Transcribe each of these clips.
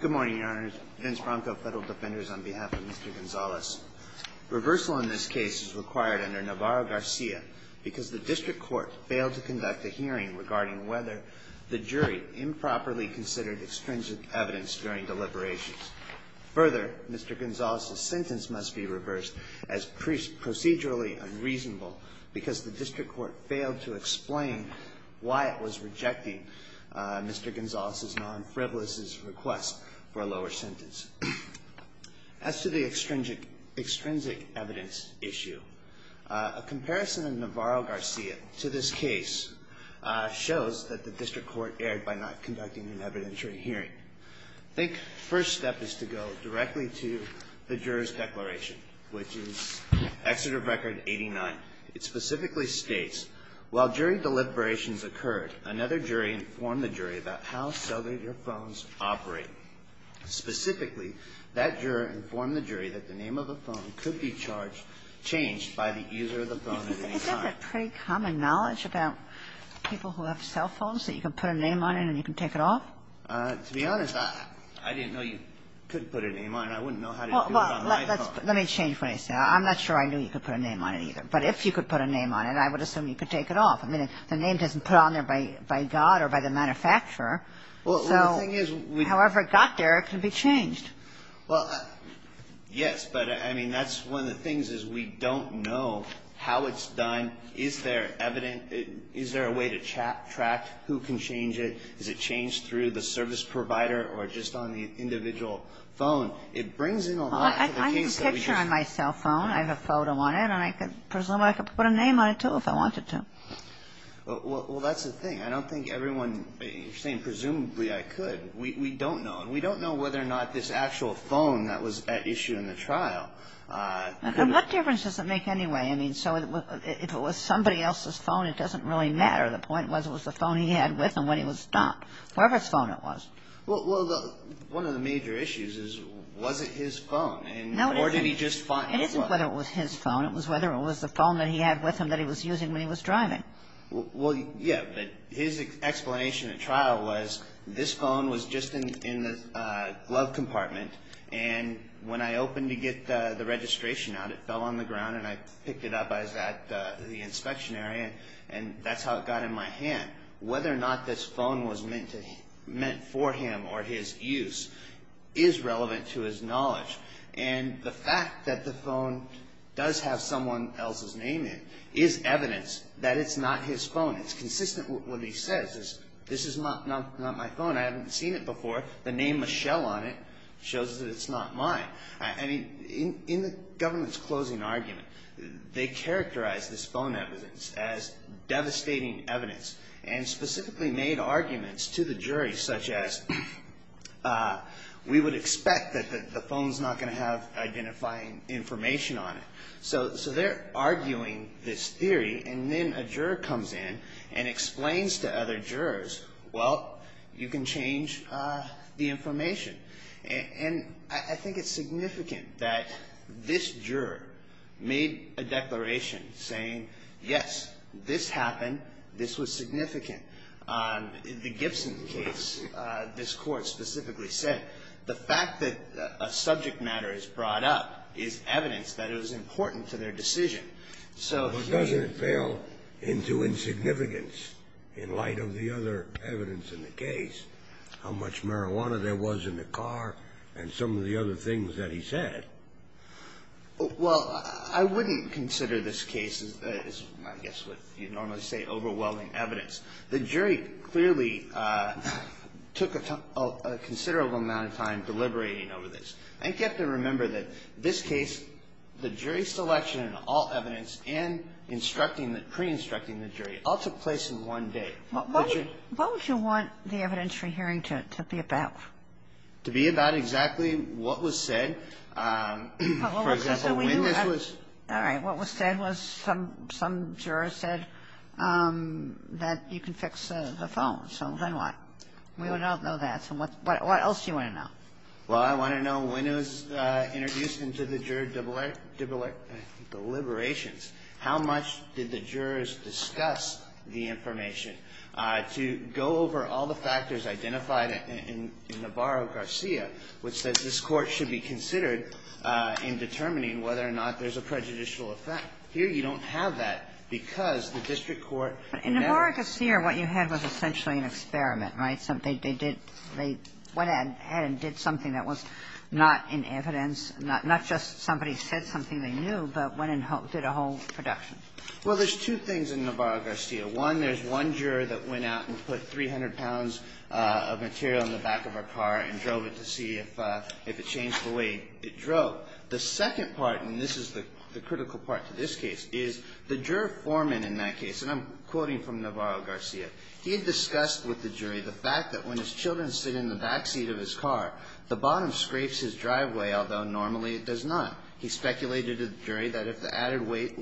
Good morning, Your Honors. Vince Branco, Federal Defenders, on behalf of Mr. Gonzalez. Reversal in this case is required under Navarro-Garcia because the district court failed to conduct a hearing regarding whether the jury improperly considered extrinsic evidence during deliberations. Further, Mr. Gonzalez's sentence must be reversed as procedurally unreasonable because the district court failed to explain why it was rejecting Mr. Gonzalez's non-frivolous request for a lower sentence. As to the extrinsic evidence issue, a comparison of Navarro-Garcia to this case shows that the district court erred by not conducting an evidentiary hearing. I think the first step is to go directly to the juror's declaration, which is Exeter Record 89. It specifically states, while jury deliberations occurred, another jury informed the jury about how cellular phones operate. Specifically, that juror informed the jury that the name of the phone could be charged, changed by the user of the phone at any time. Kagan. Is that a pretty common knowledge about people who have cell phones, that you can put a name on it and you can take it off? Gonzalez-Valdez To be honest, I didn't know you could put a name on it. I wouldn't know how to do it on my phone. Kagan. Well, let me change what I say. I'm not sure I knew you could put a name on it, either. But if you could put a name on it, I would assume you could take it off. I mean, the name doesn't put on there by God or by the manufacturer. So however it got there, it could be changed. Gonzalez-Valdez Well, yes. But, I mean, that's one of the things, is we don't know how it's done. Is there evident? Is there a way to track who can change it? Is it changed through the service provider or just on the individual phone? It brings in a lot to the case that we just ---- Kagan. Well, I would presume I could put a name on it, too, if I wanted to. Gonzalez-Valdez Well, that's the thing. I don't think everyone ---- you're saying presumably I could. We don't know. And we don't know whether or not this actual phone that was at issue in the trial ---- Kagan. And what difference does it make anyway? I mean, so if it was somebody else's phone, it doesn't really matter. The point was, it was the phone he had with him when he was stumped. Whatever his phone it was. Gonzalez-Valdez Well, one of the major issues is, was it his phone? Kagan. No, it isn't. Gonzalez-Valdez Or did he just find it was? Kagan. No, it wasn't whether it was his phone. It was whether it was the phone that he had with him that he was using when he was driving. Gonzalez-Valdez Well, yeah. But his explanation at trial was, this phone was just in the glove compartment. And when I opened to get the registration out, it fell on the ground and I picked it up at the inspection area. And that's how it got in my hand. Whether or not this phone was meant for him or his use is relevant to his knowledge. And the fact that the phone does have someone else's name in it is evidence that it's not his phone. It's consistent with what he says. This is not my phone. I haven't seen it before. The name Michelle on it shows that it's not mine. I mean, in the government's closing argument, they characterized this phone evidence as devastating evidence and specifically made arguments to the jury such as, we would expect that the phone's not going to have identifying information on it. So they're arguing this theory and then a juror comes in and explains to other jurors, well, you can change the information. And I think it's significant that this juror made a declaration saying, yes, this happened. This was significant. The Gibson case, this court specifically said, the fact that a subject matter is brought up is evidence that it was important to their decision. So does it fail into insignificance in light of the other evidence in the case, how much marijuana there was in the car, and some of the other things that he said? Well, I wouldn't consider this case, I guess what you'd normally say, overwhelming evidence. The jury clearly took a considerable amount of time deliberating over this. I get to remember that this case, the jury selection and all evidence and instructing, pre-instructing the jury all took place in one day. What would you want the evidence you're hearing to be about? To be about exactly what was said. For example, when this was --- All right. What was said was some jurors said that you can fix the phone. So then what? We don't know that. So what else do you want to know? Well, I want to know when it was introduced into the juror deliberations. How much did the jurors discuss the information? To go over all the factors identified in Navarro-Garcia, which says this court should be considered in determining whether or not there's a prejudicial effect. Here you don't have that because the district court --- In Navarro-Garcia, what you had was essentially an experiment, right? They went ahead and did something that was not in evidence, not just somebody said something they knew, but went and did a whole production. Well, there's two things in Navarro-Garcia. One, there's one juror that went out and put 300 pounds of material in the back of her car and drove it to see if it changed the way it drove. The second part, and this is the critical part to this case, is the juror foreman in that case, and I'm quoting from Navarro-Garcia, he had discussed with the jury the fact that when his children sit in the backseat of his car, the bottom scrapes his driveway, although normally it does not. He speculated to the jury that if the added weight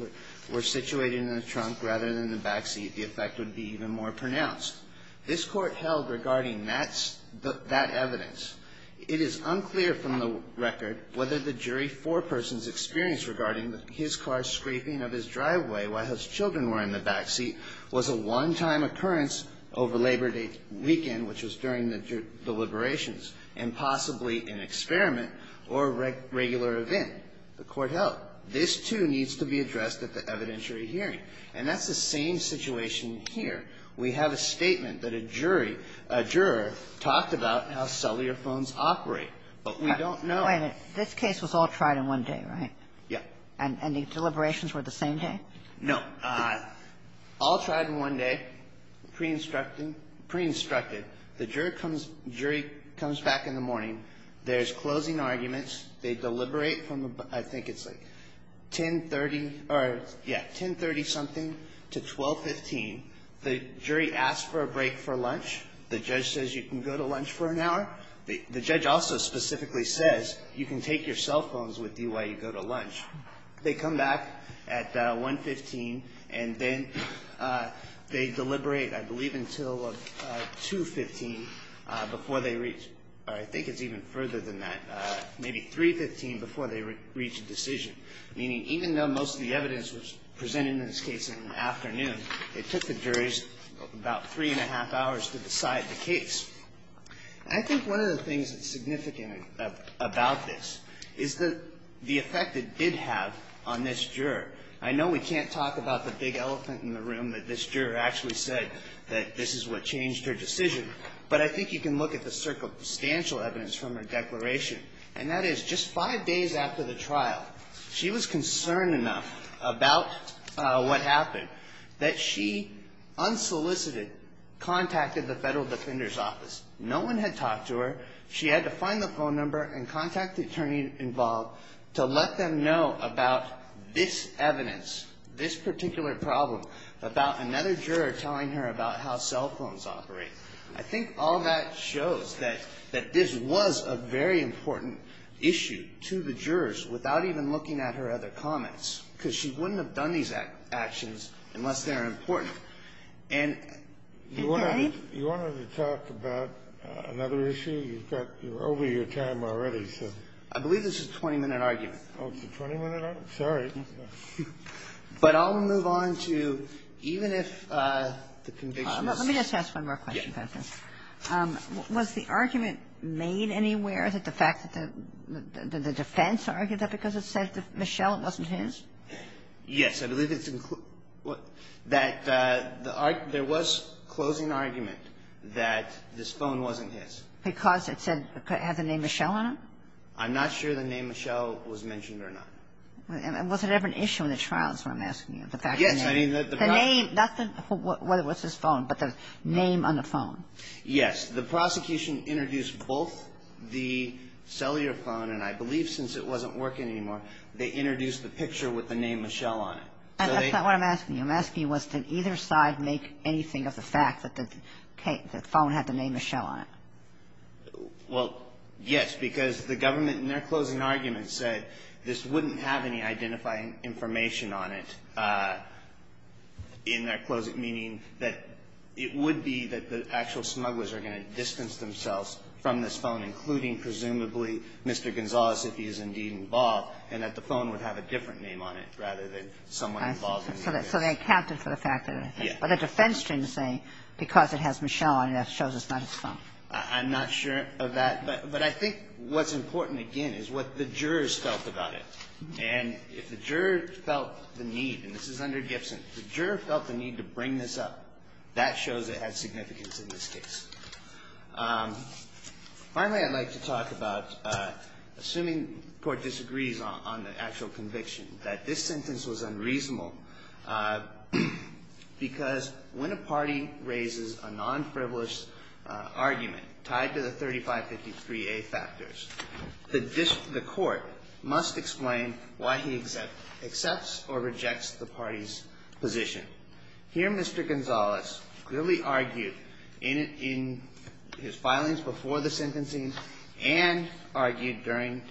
were situated in the trunk rather than the backseat, the effect would be even more pronounced. This Court held regarding that evidence. It is unclear from the record whether the jury foreperson's experience regarding his car scraping of his driveway while his children were in the backseat was a one-time occurrence over Labor Day weekend, which was during the deliberations, and possibly an experiment or regular event. The Court held. This, too, needs to be addressed at the evidentiary hearing. And that's the same situation here. We have a statement that a jury, a juror, talked about how cellular phones operate, but we don't know. Kagan. This case was all tried in one day, right? Yeah. And the deliberations were the same day? No. All tried in one day, pre-instructing, pre-instructed. The jury comes back in the morning. There's closing arguments. They deliberate from, I think it's like 1030 or, yeah, 1030-something to 1215. The jury asks for a break for lunch. The judge says you can go to lunch for an hour. The judge also specifically says you can take your cell phones with you while you go to lunch. They come back at 115 and then they deliberate, I believe, until 215 before they reach, or I think it's even further than that, maybe 315 before they reach a decision. Meaning even though most of the evidence was presented in this case in the afternoon, it took the juries about three and a half hours to decide the case. I think one of the things that's significant about this is the effect it did have on this juror. I know we can't talk about the big elephant in the room that this juror actually said that this is what changed her decision, but I think you can look at the circumstantial evidence from her declaration, and that is just five days after the trial, she was concerned enough about what happened that she unsolicited contacted the Federal Defender's Office. No one had talked to her. She had to find the phone number and contact the attorney involved to let them know about this evidence, this particular problem, about another juror telling her about how cell phones operate. I think all that shows that this was a very important issue to the jurors without even looking at her other comments because she wouldn't have done these actions unless they're important. And you want to talk about another issue? You're over your time already, so. I believe this is a 20-minute argument. Oh, it's a 20-minute argument? Sorry. But I'll move on to even if the conviction is. Let me just ask one more question about this. Yes. Was the argument made anywhere that the fact that the defense argued that because it said to Michelle it wasn't his? Yes. I believe it's that there was closing argument that this phone wasn't his. Because it said it had the name Michelle on it? I'm not sure the name Michelle was mentioned or not. Was it ever an issue in the trials when I'm asking you? Yes. The name, not whether it was his phone, but the name on the phone. Yes. The prosecution introduced both the cellular phone, and I believe since it wasn't working anymore, they introduced the picture with the name Michelle on it. And that's not what I'm asking you. I'm asking you was did either side make anything of the fact that the phone had the name Michelle on it? Well, yes, because the government in their closing argument said this wouldn't have any identifying information on it in their closing, meaning that it would be that the actual smugglers are going to distance themselves from this phone, including presumably Mr. Gonzales, if he is indeed involved, and that the phone would have a different name on it rather than someone involved. So they accounted for the fact that it had the name. Yes. But the defense team is saying because it has Michelle on it, that shows it's not his phone. I'm not sure of that. But I think what's important, again, is what the jurors felt about it. And if the jurors felt the need, and this is under Gibson, the juror felt the need to bring this up, that shows it had significance in this case. Finally, I'd like to talk about assuming the court disagrees on the actual conviction, that this sentence was unreasonable because when a party raises a non-frivolous argument tied to the 3553A factors, the court must explain why he accepts or rejects the party's position. Here Mr. Gonzales clearly argued in his filings before the sentencing and argued during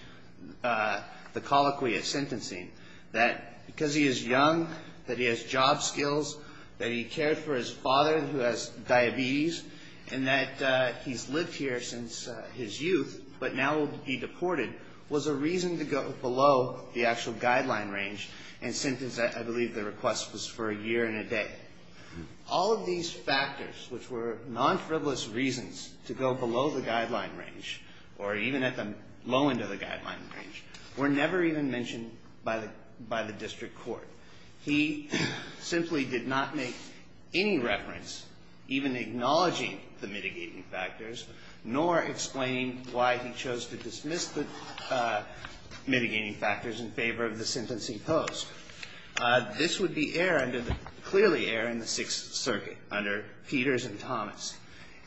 the colloquy of sentencing that because he is young, that he has job skills, that he cared for his father who has diabetes, and that he's lived here since his youth but now will be deported, was a reason to go below the actual guideline range, or even at the low end of the guideline range, were never even mentioned by the district court. He simply did not make any reference, even acknowledging the mitigating factors, nor explaining why he chose to dismiss the mitigating factors in favor of the sentencing post. This would be air under the, clearly air in the Sixth Circuit under Peters and Thomas,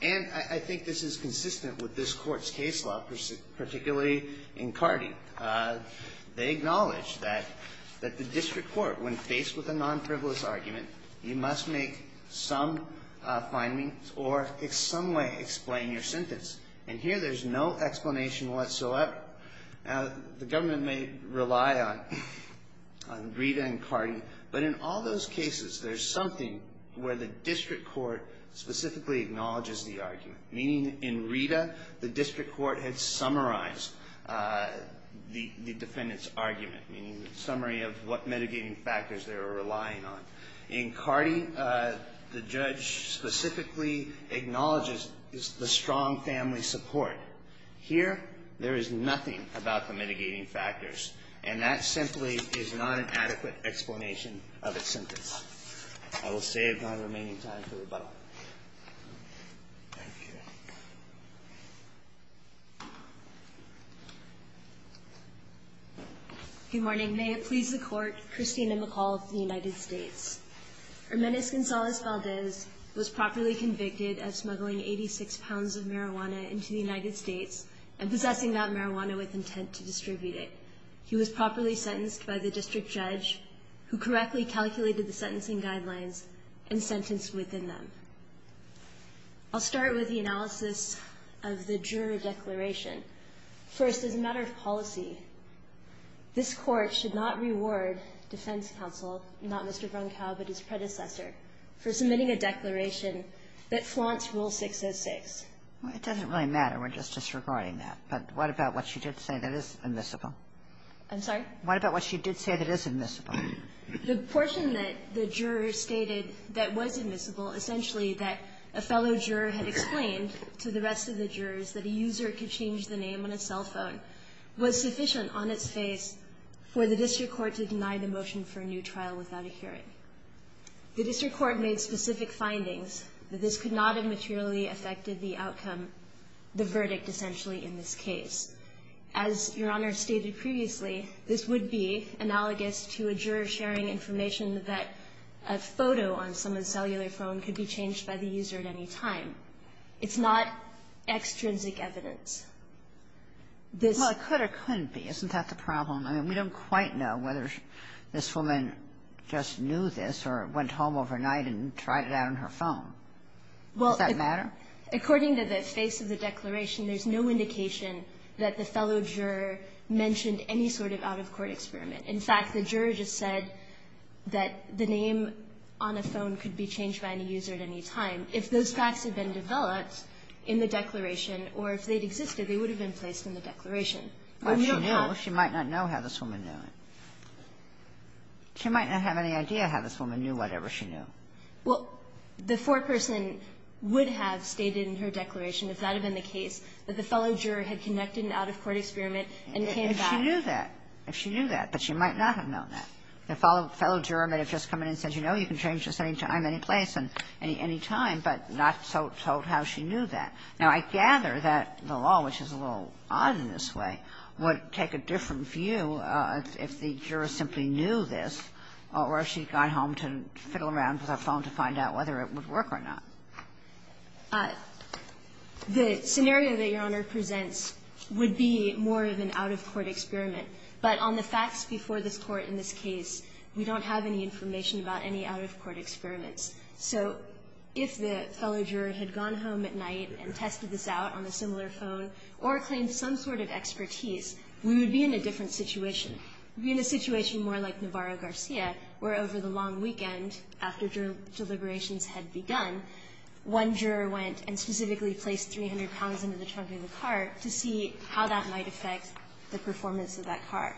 and I think this is consistent with this court's case law, particularly in Cardi. They acknowledge that the district court, when faced with a non-frivolous argument, you must make some findings or in some way explain your sentence, and here there's no explanation whatsoever. Now, the government may rely on Rita and Cardi, but in all those cases there's something where the district court specifically acknowledges the argument, meaning in Rita, the district court had summarized the defendant's argument, meaning the summary of what mitigating factors they were relying on. In Cardi, the judge specifically acknowledges the strong family support. Here, there is nothing about the mitigating factors, and that simply is not an adequate explanation of a sentence. I will save my remaining time for rebuttal. Good morning. May it please the court, Christina McCall of the United States. Her menace, Gonzalez Valdez, was properly convicted of smuggling 86 pounds of marijuana from the United States and possessing that marijuana with intent to distribute it. He was properly sentenced by the district judge, who correctly calculated the sentencing guidelines and sentenced within them. I'll start with the analysis of the juror declaration. First, as a matter of policy, this court should not reward defense counsel, not Mr. Bronkow but his predecessor, for submitting a declaration that flaunts Rule 606. It doesn't really matter. We're just disregarding that. But what about what she did say that is admissible? I'm sorry? What about what she did say that is admissible? The portion that the juror stated that was admissible, essentially that a fellow juror had explained to the rest of the jurors that a user could change the name on a cell phone, was sufficient on its face for the district court to deny the motion for a new trial without a hearing. The district court made specific findings that this could not have materially affected the outcome, the verdict, essentially, in this case. As Your Honor stated previously, this would be analogous to a juror sharing information that a photo on someone's cellular phone could be changed by the user at any time. It's not extrinsic evidence. This ---- Well, it could or couldn't be. Isn't that the problem? I mean, we don't quite know whether this woman just knew this or went home overnight and tried it out on her phone. Does that matter? According to the face of the declaration, there's no indication that the fellow juror mentioned any sort of out-of-court experiment. In fact, the juror just said that the name on a phone could be changed by any user at any time. If those facts had been developed in the declaration or if they had existed, they would have been placed in the declaration. But she knew. She might not know how this woman knew it. She might not have any idea how this woman knew whatever she knew. Well, the foreperson would have stated in her declaration, if that had been the case, that the fellow juror had conducted an out-of-court experiment and came back ---- If she knew that. If she knew that. But she might not have known that. The fellow juror might have just come in and said, you know, you can change this at any time, any place, any time, but not told how she knew that. Now, I gather that the law, which is a little odd in this way, would take a different view if the juror simply knew this or if she had gone home to fiddle around with her phone to find out whether it would work or not. The scenario that Your Honor presents would be more of an out-of-court experiment. But on the facts before this Court in this case, we don't have any information about any out-of-court experiments. So if the fellow juror had gone home at night and tested this out on a similar phone or claimed some sort of expertise, we would be in a different situation. We would be in a situation more like Navarro-Garcia, where over the long weekend after deliberations had begun, one juror went and specifically placed 300 pounds into the trunk of the car to see how that might affect the performance of that car.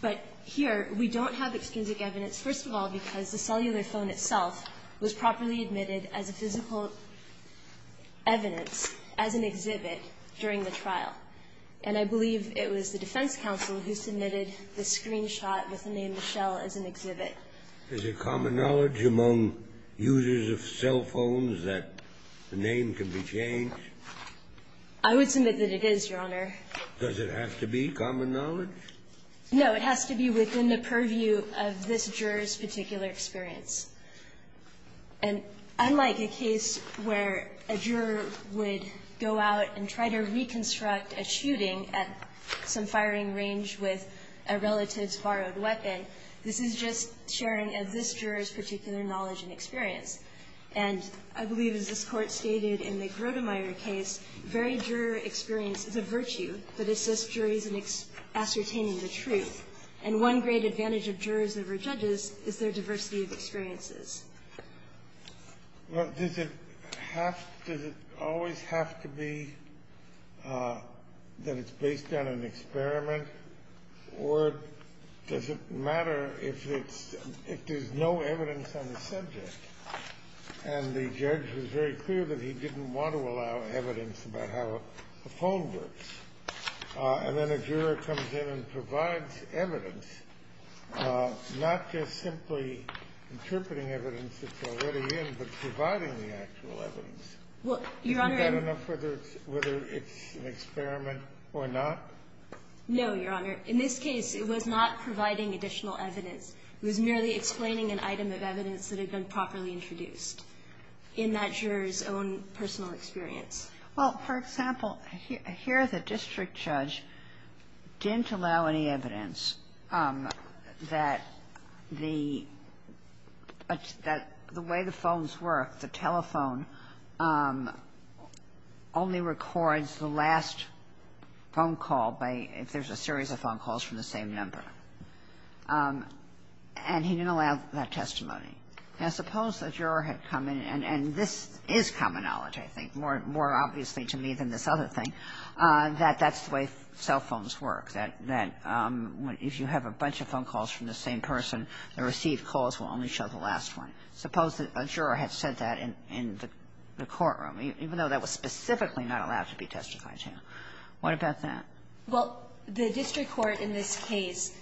But here, we don't have extrinsic evidence, first of all, because the cellular phone itself was properly admitted as a physical evidence, as an exhibit, during the trial. And I believe it was the defense counsel who submitted the screenshot with the name Michelle as an exhibit. Is it common knowledge among users of cell phones that the name can be changed? I would submit that it is, Your Honor. Does it have to be common knowledge? No. It has to be within the purview of this juror's particular experience. And unlike a case where a juror would go out and try to reconstruct a shooting at some firing range with a relative's borrowed weapon, this is just sharing of this juror's particular knowledge and experience. And I believe, as this Court stated in the Grotemeyer case, very juror experience is a virtue that assists juries in ascertaining the truth. And one great advantage of jurors over judges is their diversity of experiences. Well, does it have to always have to be that it's based on an experiment, or does it matter if it's no evidence on the subject, and the judge was very clear that he didn't want to allow evidence about how a phone works. And then a juror comes in and provides evidence, not just simply interpreting evidence that's already in, but providing the actual evidence. Isn't that enough whether it's an experiment or not? No, Your Honor. In this case, it was not providing additional evidence. It was merely explaining an item of evidence that had been properly introduced in that juror's own personal experience. Well, for example, here the district judge didn't allow any evidence that the way the phones work, the telephone, only records the last phone call by if there's a series of phone calls from the same number. And he didn't allow that testimony. Now, suppose a juror had come in, and this is common knowledge, I think, more obviously to me than this other thing, that that's the way cell phones work, that if you have a bunch of phone calls from the same person, the received calls will only show the last one. Suppose that a juror had said that in the courtroom, even though that was specifically not allowed to be testified to. What about that? Well, the district court in this case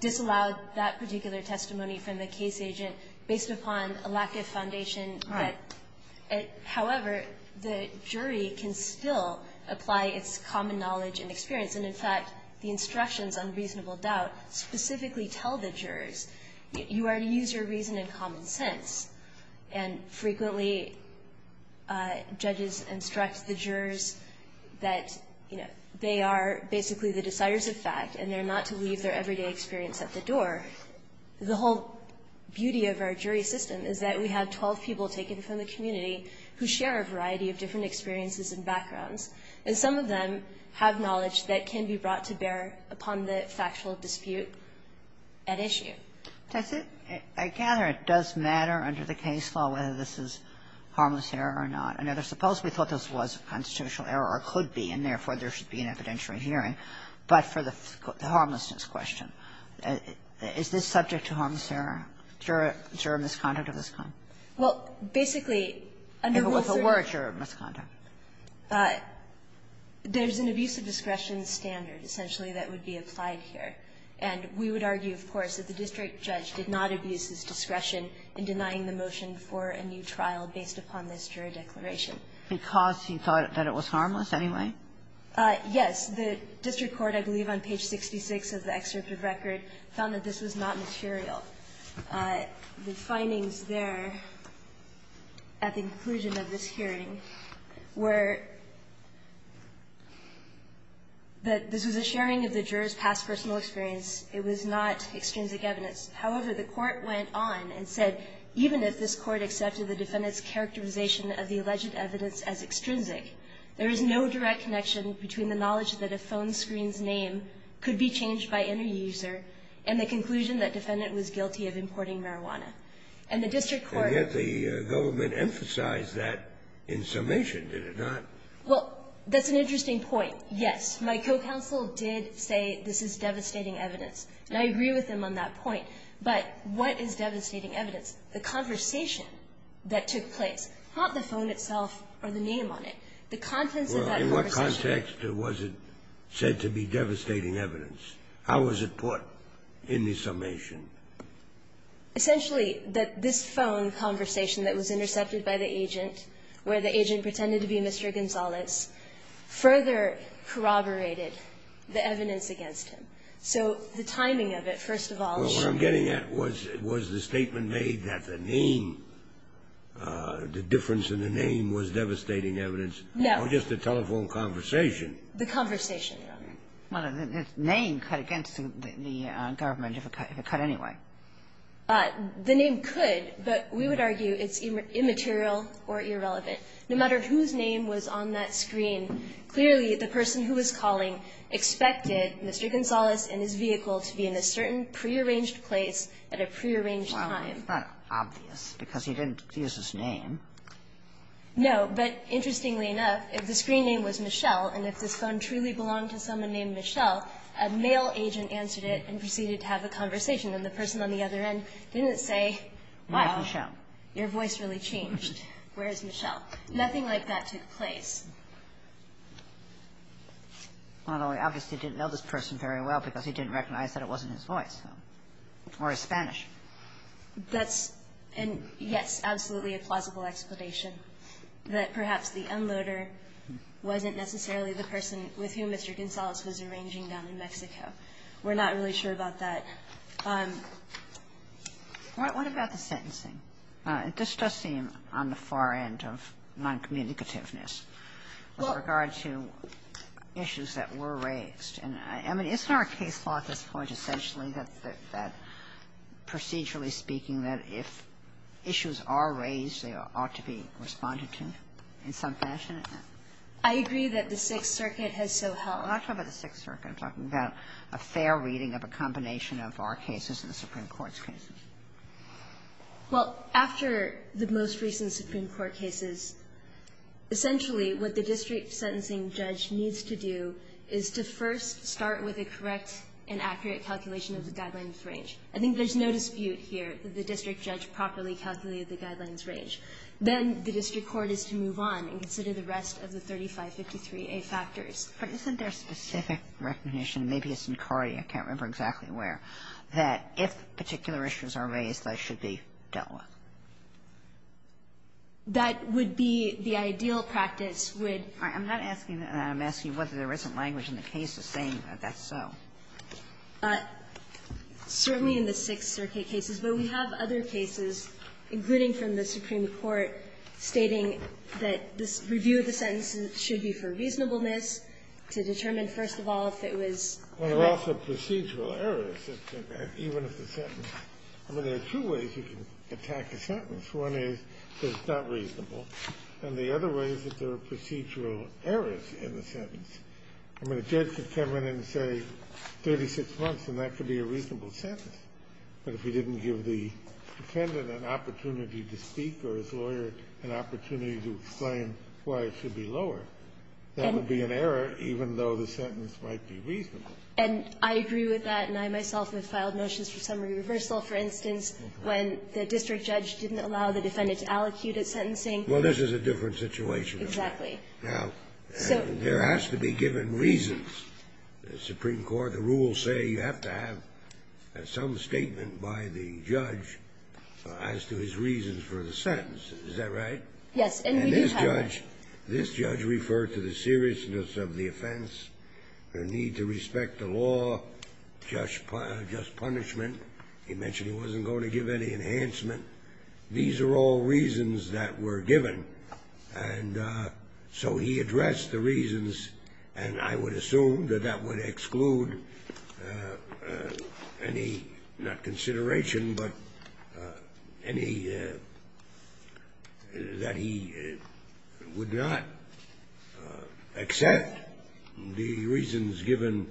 disallowed that particular testimony from the case agent based upon a lack of foundation. All right. However, the jury can still apply its common knowledge and experience. And, in fact, the instructions on reasonable doubt specifically tell the jurors you are to use your reason and common sense. And frequently, judges instruct the jurors that, you know, they are basically the deciders of fact, and they're not to leave their everyday experience at the door. The whole beauty of our jury system is that we have 12 people taken from the community who share a variety of different experiences and backgrounds, and some of them have knowledge that can be brought to bear upon the factual dispute at issue. That's it. I gather it does matter under the case law whether this is harmless error or not. I mean, suppose we thought this was a constitutional error, or could be, and therefore there should be an evidentiary hearing. But for the harmlessness question, is this subject to harmless error, juror misconduct of this kind? Well, basically, under Rule 30 ---- If it was a word, juror misconduct. There's an abuse of discretion standard, essentially, that would be applied here. And we would argue, of course, that the district judge did not abuse his discretion in denying the motion for a new trial based upon this jury declaration. Because he thought that it was harmless anyway? Yes. The district court, I believe on page 66 of the excerpt of record, found that this was not material. The findings there at the conclusion of this hearing were that this was a sharing of the juror's past personal experience. It was not extrinsic evidence. However, the Court went on and said, even if this Court accepted the defendant's connection between the knowledge that a phone screen's name could be changed by any user, and the conclusion that defendant was guilty of importing marijuana. And the district court ---- And yet the government emphasized that in summation, did it not? Well, that's an interesting point, yes. My co-counsel did say this is devastating evidence. And I agree with him on that point. But what is devastating evidence? The conversation that took place. Not the phone itself or the name on it. The contents of that conversation. In what context was it said to be devastating evidence? How was it put in the summation? Essentially, that this phone conversation that was intercepted by the agent, where the agent pretended to be Mr. Gonzales, further corroborated the evidence against him. So the timing of it, first of all ---- Well, what I'm getting at was, was the statement made that the name, the difference in the name was devastating evidence? No. Oh, just the telephone conversation. The conversation. Well, the name cut against the government, if it cut anyway. The name could, but we would argue it's immaterial or irrelevant. No matter whose name was on that screen, clearly the person who was calling expected Mr. Gonzales and his vehicle to be in a certain prearranged place at a prearranged time. Well, it's not obvious, because he didn't use his name. No. But interestingly enough, if the screen name was Michelle, and if this phone truly belonged to someone named Michelle, a male agent answered it and proceeded to have a conversation. And the person on the other end didn't say, well, your voice really changed. Where is Michelle? Nothing like that took place. Although he obviously didn't know this person very well, because he didn't recognize that it wasn't his voice. Or his Spanish. That's, yes, absolutely a plausible explanation that perhaps the unloader wasn't necessarily the person with whom Mr. Gonzales was arranging down in Mexico. We're not really sure about that. What about the sentencing? This does seem on the far end of noncommunicativeness with regard to issues that were raised. And, I mean, isn't our case law at this point essentially that procedurally speaking that if issues are raised, they ought to be responded to in some fashion? I agree that the Sixth Circuit has so helped. I'm not talking about the Sixth Circuit. I'm talking about a fair reading of a combination of our cases and the Supreme Court's cases. Well, after the most recent Supreme Court cases, essentially what the district sentencing judge needs to do is to first start with a correct and accurate calculation of the guidelines range. I think there's no dispute here that the district judge properly calculated the guidelines range. Then the district court is to move on and consider the rest of the 3553A factors. But isn't there a specific recognition, maybe it's in Cardi, I can't remember exactly where, that if particular issues are raised, they should be dealt with? That would be the ideal practice would be. All right. I'm not asking that. I'm asking whether there isn't language in the cases saying that that's so. Certainly in the Sixth Circuit cases. But we have other cases, including from the Supreme Court, stating that this review of the sentence should be for reasonableness to determine, first of all, if it was correct. Well, there are also procedural errors, even if the sentence. I mean, there are two ways you can attack a sentence. One is that it's not reasonable. And the other way is that there are procedural errors in the sentence. I mean, a judge could come in and say 36 months, and that could be a reasonable sentence. But if he didn't give the defendant an opportunity to speak or his lawyer an opportunity to explain why it should be lower, that would be an error, even though the sentence might be reasonable. And I agree with that. And I myself have filed motions for summary reversal, for instance, when the district judge didn't allow the defendant to allocute at sentencing. Well, this is a different situation. Exactly. Now, there has to be given reasons. The Supreme Court, the rules say you have to have some statement by the judge as to his reasons for the sentence. Is that right? And we do have that. This judge referred to the seriousness of the offense, the need to respect the law, just punishment. He mentioned he wasn't going to give any enhancement. These are all reasons that were given. And so he addressed the reasons. And I would assume that that would exclude any, not consideration, but any that he would not accept the reasons given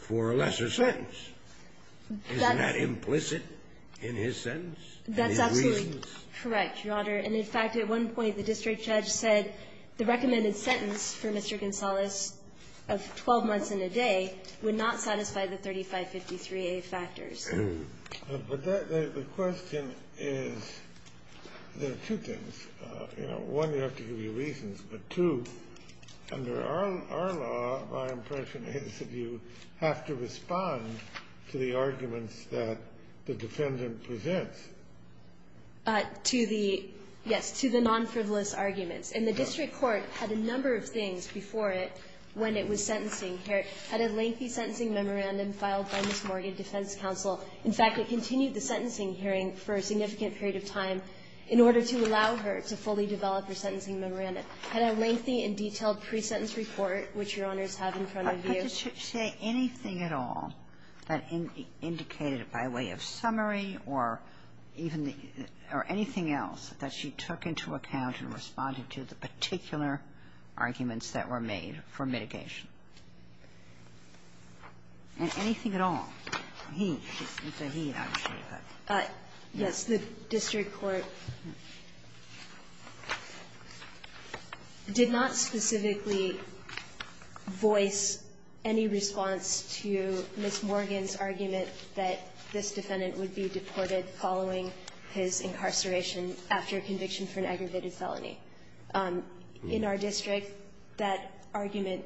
for a lesser sentence. Isn't that implicit in his sentence? And, in fact, at one point, the district judge said the recommended sentence for Mr. Gonzales of 12 months and a day would not satisfy the 3553A factors. But the question is, there are two things. One, you have to give your reasons. But, two, under our law, my impression is that you have to respond to the arguments that the defendant presents. To the, yes, to the non-frivolous arguments. And the district court had a number of things before it when it was sentencing here. It had a lengthy sentencing memorandum filed by Miss Morgan Defense Counsel. In fact, it continued the sentencing hearing for a significant period of time in order to allow her to fully develop her sentencing memorandum. It had a lengthy and detailed pre-sentence report, which Your Honors have in front of you. Did she say anything at all that indicated by way of summary or even the or anything else that she took into account in responding to the particular arguments that were made for mitigation? And anything at all? He, she said he, not she. Yes. The district court did not specifically voice any response to Miss Morgan's argument that this defendant would be deported following his incarceration after a conviction for an aggravated felony. In our district, that argument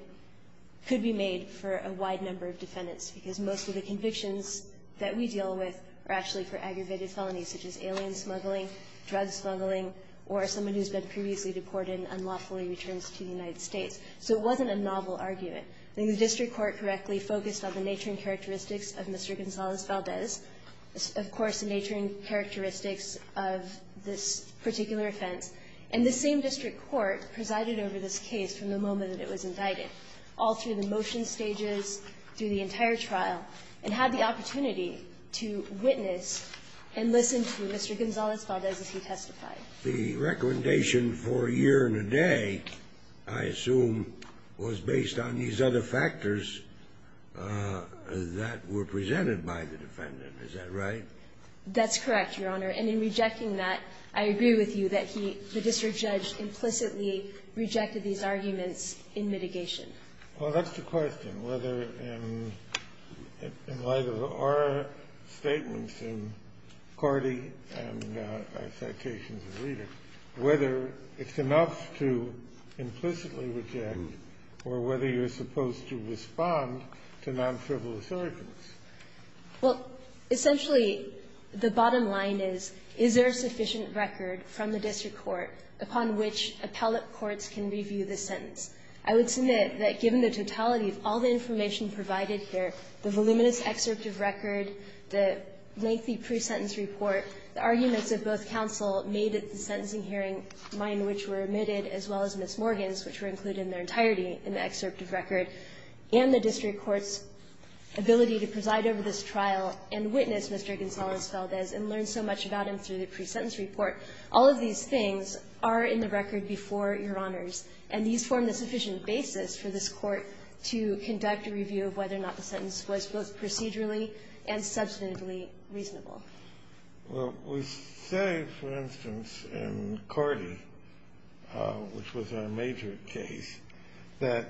could be made for a wide number of defendants, because most of the convictions that we deal with are actually for aggravated felonies, such as alien smuggling, drug smuggling, or someone who's been previously deported and unlawfully returns to the United States. So it wasn't a novel argument. I think the district court correctly focused on the nature and characteristics of Mr. Gonzalez-Valdez, of course, the nature and characteristics of this particular offense. And the same district court presided over this case from the moment that it was indicted, all through the motion stages, through the entire trial, and had the opportunity to witness and listen to Mr. Gonzalez-Valdez as he testified. The recommendation for a year and a day, I assume, was based on these other factors that were presented by the defendant. Is that right? That's correct, Your Honor. And in rejecting that, I agree with you that he, the district judge, implicitly rejected Mr. Gonzalez-Valdez's arguments in mitigation. Well, that's the question, whether in light of our statements in Cordy and our citations as readers, whether it's enough to implicitly reject or whether you're supposed to respond to non-frivolous arguments. Well, essentially, the bottom line is, is there a sufficient record from the district court upon which appellate courts can review the sentence? I would submit that given the totality of all the information provided here, the voluminous excerpt of record, the lengthy pre-sentence report, the arguments of both counsel made at the sentencing hearing, mine which were omitted, as well as Ms. Morgan's, which were included in their entirety in the excerpt of record, and the district court's ability to preside over this trial and witness Mr. Gonzalez-Valdez and learn so much about him through the pre-sentence report, all of these things are in the record before Your Honors. And these form the sufficient basis for this court to conduct a review of whether or not the sentence was both procedurally and substantively reasonable. Well, we say, for instance, in Cordy, which was our major case, that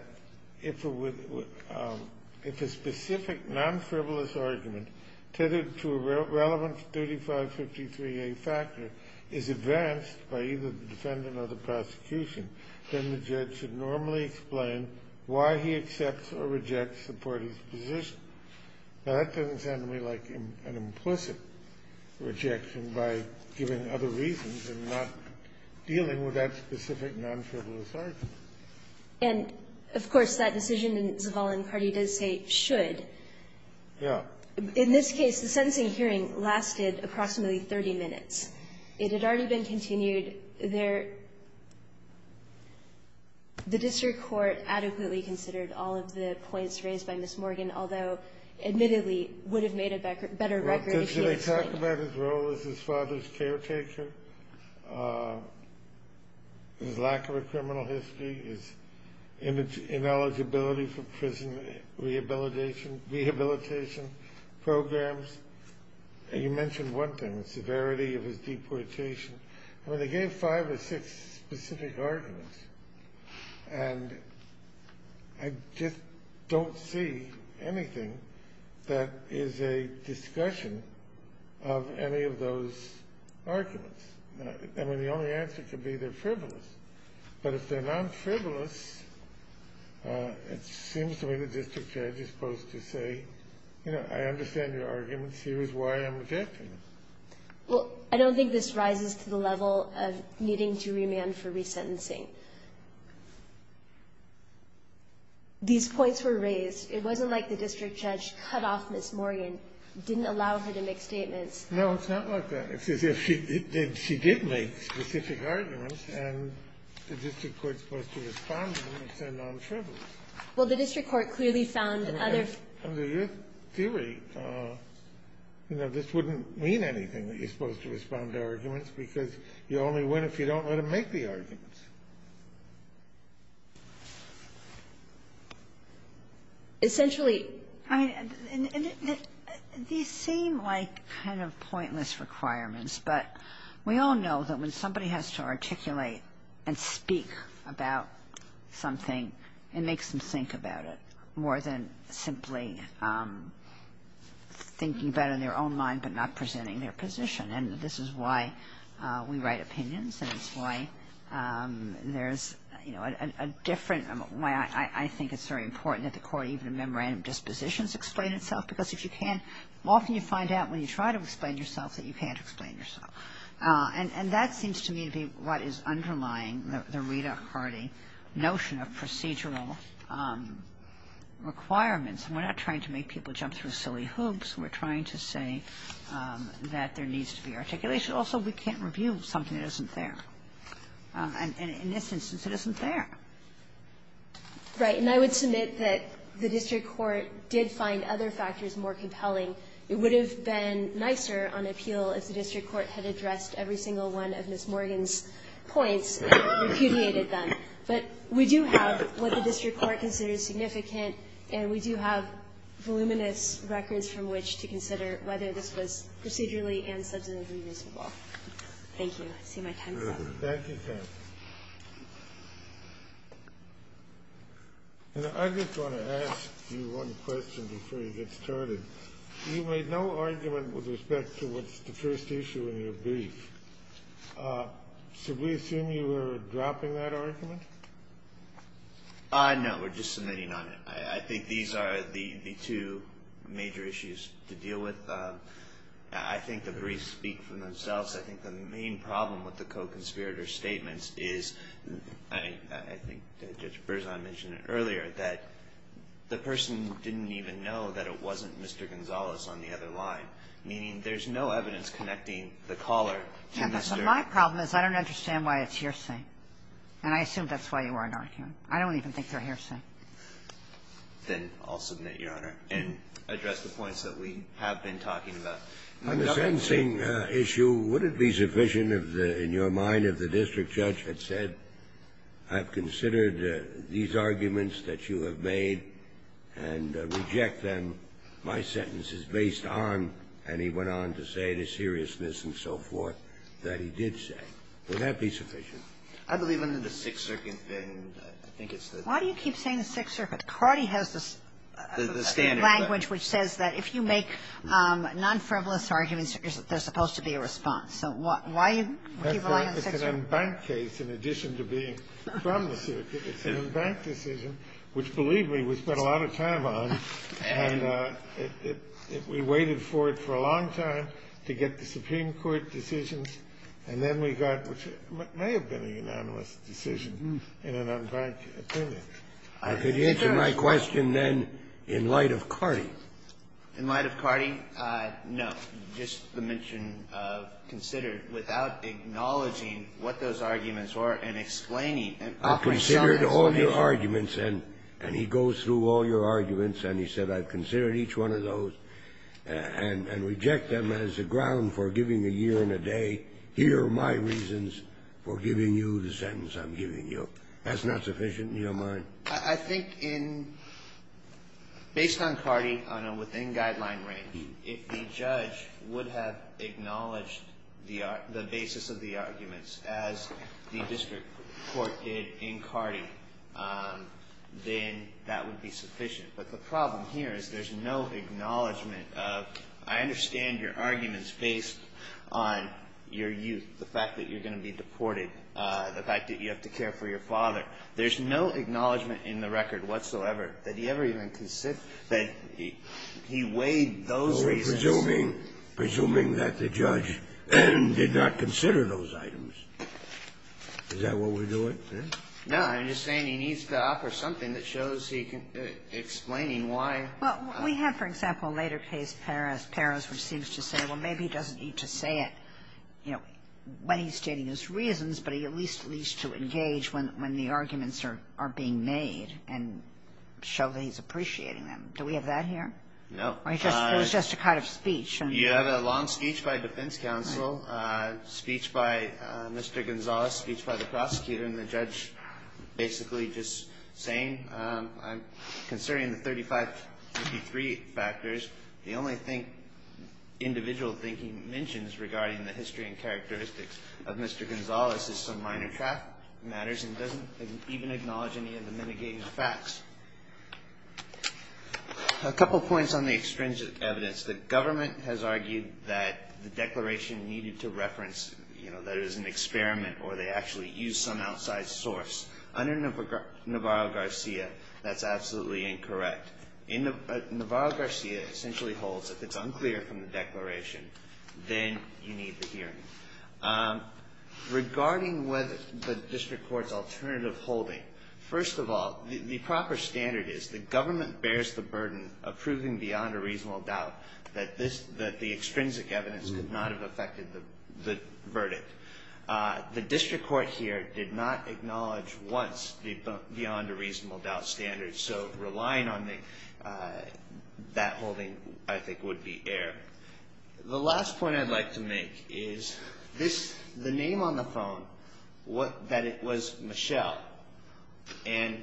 if a specific non-frivolous argument tethered to a relevant 3553A factor is advanced by either the defendant or the prosecution, then the judge should normally explain why he accepts or rejects the party's position. Now, that doesn't sound to me like an implicit rejection by giving other reasons and not dealing with that specific non-frivolous argument. And, of course, that decision in Zavala and Cordy does say, should. Yeah. In this case, the sentencing hearing lasted approximately 30 minutes. It had already been continued. The district court adequately considered all of the points raised by Ms. Morgan, although, admittedly, would have made a better record if he had explained. They talk about his role as his father's caretaker, his lack of a criminal history, his ineligibility for prison rehabilitation programs. You mentioned one thing, the severity of his deportation. I mean, they gave five or six specific arguments, and I just don't see anything that is a discussion of any of those arguments. I mean, the only answer could be they're frivolous. But if they're non-frivolous, it seems to me the district judge is supposed to say, you know, I understand your arguments. Here is why I'm rejecting them. Well, I don't think this rises to the level of needing to remand for resentencing. These points were raised. It wasn't like the district judge cut off Ms. Morgan, didn't allow her to make statements. No, it's not like that. It's as if she did make specific arguments, and the district court is supposed to respond to them and send non-frivolous. Well, the district court clearly found other ---- Under your theory, you know, this wouldn't mean anything that you're supposed to respond to arguments because you only win if you don't let them make the arguments. Essentially ---- I mean, these seem like kind of pointless requirements. But we all know that when somebody has to articulate and speak about something, it makes them think about it more than simply thinking about it in their own mind but not presenting their position. And this is why we write opinions, and it's why there's a different ---- I think it's very important that the court even in memorandum dispositions explain itself because if you can't, often you find out when you try to explain yourself that you can't explain yourself. And that seems to me to be what is underlying the Rita Hardy notion of procedural requirements. We're not trying to make people jump through silly hoops. We're trying to say that there needs to be articulation. Also, we can't review something that isn't there. And in this instance, it isn't there. Right. And I would submit that the district court did find other factors more compelling. It would have been nicer on appeal if the district court had addressed every single one of Ms. Morgan's points and repudiated them. But we do have what the district court considers significant, and we do have voluminous records from which to consider whether this was procedurally and substantively reasonable. Thank you. I see my time's up. Thank you, Karen. And I just want to ask you one question before you get started. You made no argument with respect to what's the first issue in your brief. Should we assume you were dropping that argument? No. We're just submitting on it. I think these are the two major issues to deal with. I think the briefs speak for themselves. I think the main problem with the co-conspirator statements is, I think Judge Berzon mentioned it earlier, that the person didn't even know that it wasn't Mr. Gonzales on the other line, meaning there's no evidence connecting the caller to Mr. Yeah, but my problem is I don't understand why it's hearsay. And I assume that's why you weren't arguing. I don't even think they're hearsay. Then I'll submit, Your Honor, and address the points that we have been talking about. On the sentencing issue, would it be sufficient, in your mind, if the district judge had said, I've considered these arguments that you have made and reject them. My sentence is based on, and he went on to say, the seriousness and so forth that he did say. Would that be sufficient? I believe under the Sixth Circuit, then, I think it's the Why do you keep saying the Sixth Circuit? Carty has the standard language which says that if you make non-frivolous arguments, there's supposed to be a response. So why do you keep relying on the Sixth Circuit? It's an unbanked case in addition to being from the circuit. It's an unbanked decision, which, believe me, we spent a lot of time on. And we waited for it for a long time to get the Supreme Court decisions. And then we got what may have been a unanimous decision in an unbanked opinion. I could answer my question, then, in light of Carty. In light of Carty? No. Just the mention of considered without acknowledging what those arguments were and explaining them. I've considered all your arguments, and he goes through all your arguments, and he said, I've considered each one of those and reject them as a ground for giving a year and a day. Here are my reasons for giving you the sentence I'm giving you. That's not sufficient in your mind? I think in – based on Carty on a within-guideline range, if the judge would have acknowledged the basis of the arguments as the district court did in Carty, then that would be sufficient. But the problem here is there's no acknowledgment of, I understand your arguments based on your youth, the fact that you're going to be deported, the fact that you have to care for your father. There's no acknowledgment in the record whatsoever that he ever even considered that he weighed those reasons. Well, we're presuming that the judge did not consider those items. Is that what we're doing? No. I'm just saying he needs to offer something that shows he can – explaining why. Well, we have, for example, a later case, Paros, which seems to say, well, maybe he doesn't need to say it when he's stating his reasons, but he at least needs to engage when the arguments are being made and show that he's appreciating them. Do we have that here? No. It was just a kind of speech. You have a long speech by defense counsel, speech by Mr. Gonzales, speech by the prosecutor, and the judge basically just saying, I'm considering the 3553 factors. The only individual thing he mentions regarding the history and characteristics of Mr. Gonzales is some minor matters and doesn't even acknowledge any of the mitigating facts. A couple points on the extrinsic evidence. The government has argued that the declaration needed to reference that it was an experiment or they actually used some outside source. Under Navarro-Garcia, that's absolutely incorrect. Navarro-Garcia essentially holds if it's unclear from the declaration, then you need the hearing. Regarding whether the district court's alternative holding, first of all, the proper standard is the government bears the burden of proving beyond a reasonable doubt that the extrinsic evidence could not have affected the verdict. The district court here did not acknowledge once beyond a reasonable doubt standard, so relying on that holding, I think, would be error. The last point I'd like to make is the name on the phone, that it was Michelle and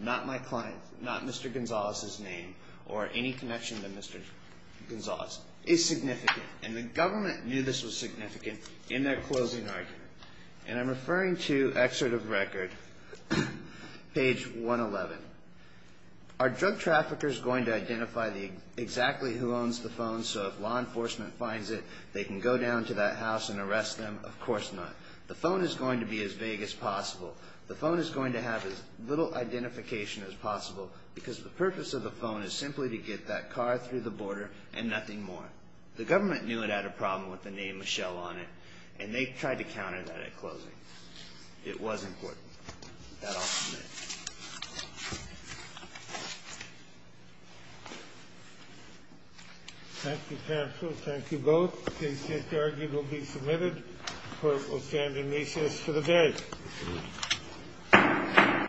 not my client, not Mr. Gonzales' name or any connection to Mr. Gonzales, is significant. And the government knew this was significant in their closing argument. And I'm referring to excerpt of record, page 111. Are drug traffickers going to identify exactly who owns the phone so if law enforcement finds it, they can go down to that house and arrest them? Of course not. The phone is going to be as vague as possible. The phone is going to have as little identification as possible because the purpose of the phone is simply to get that car through the border and nothing more. The government knew it had a problem with the name Michelle on it, and they tried to counter that at closing. It was important. That I'll submit. Thank you, counsel. Thank you both. This argument will be submitted. Court will stand in recess for the day.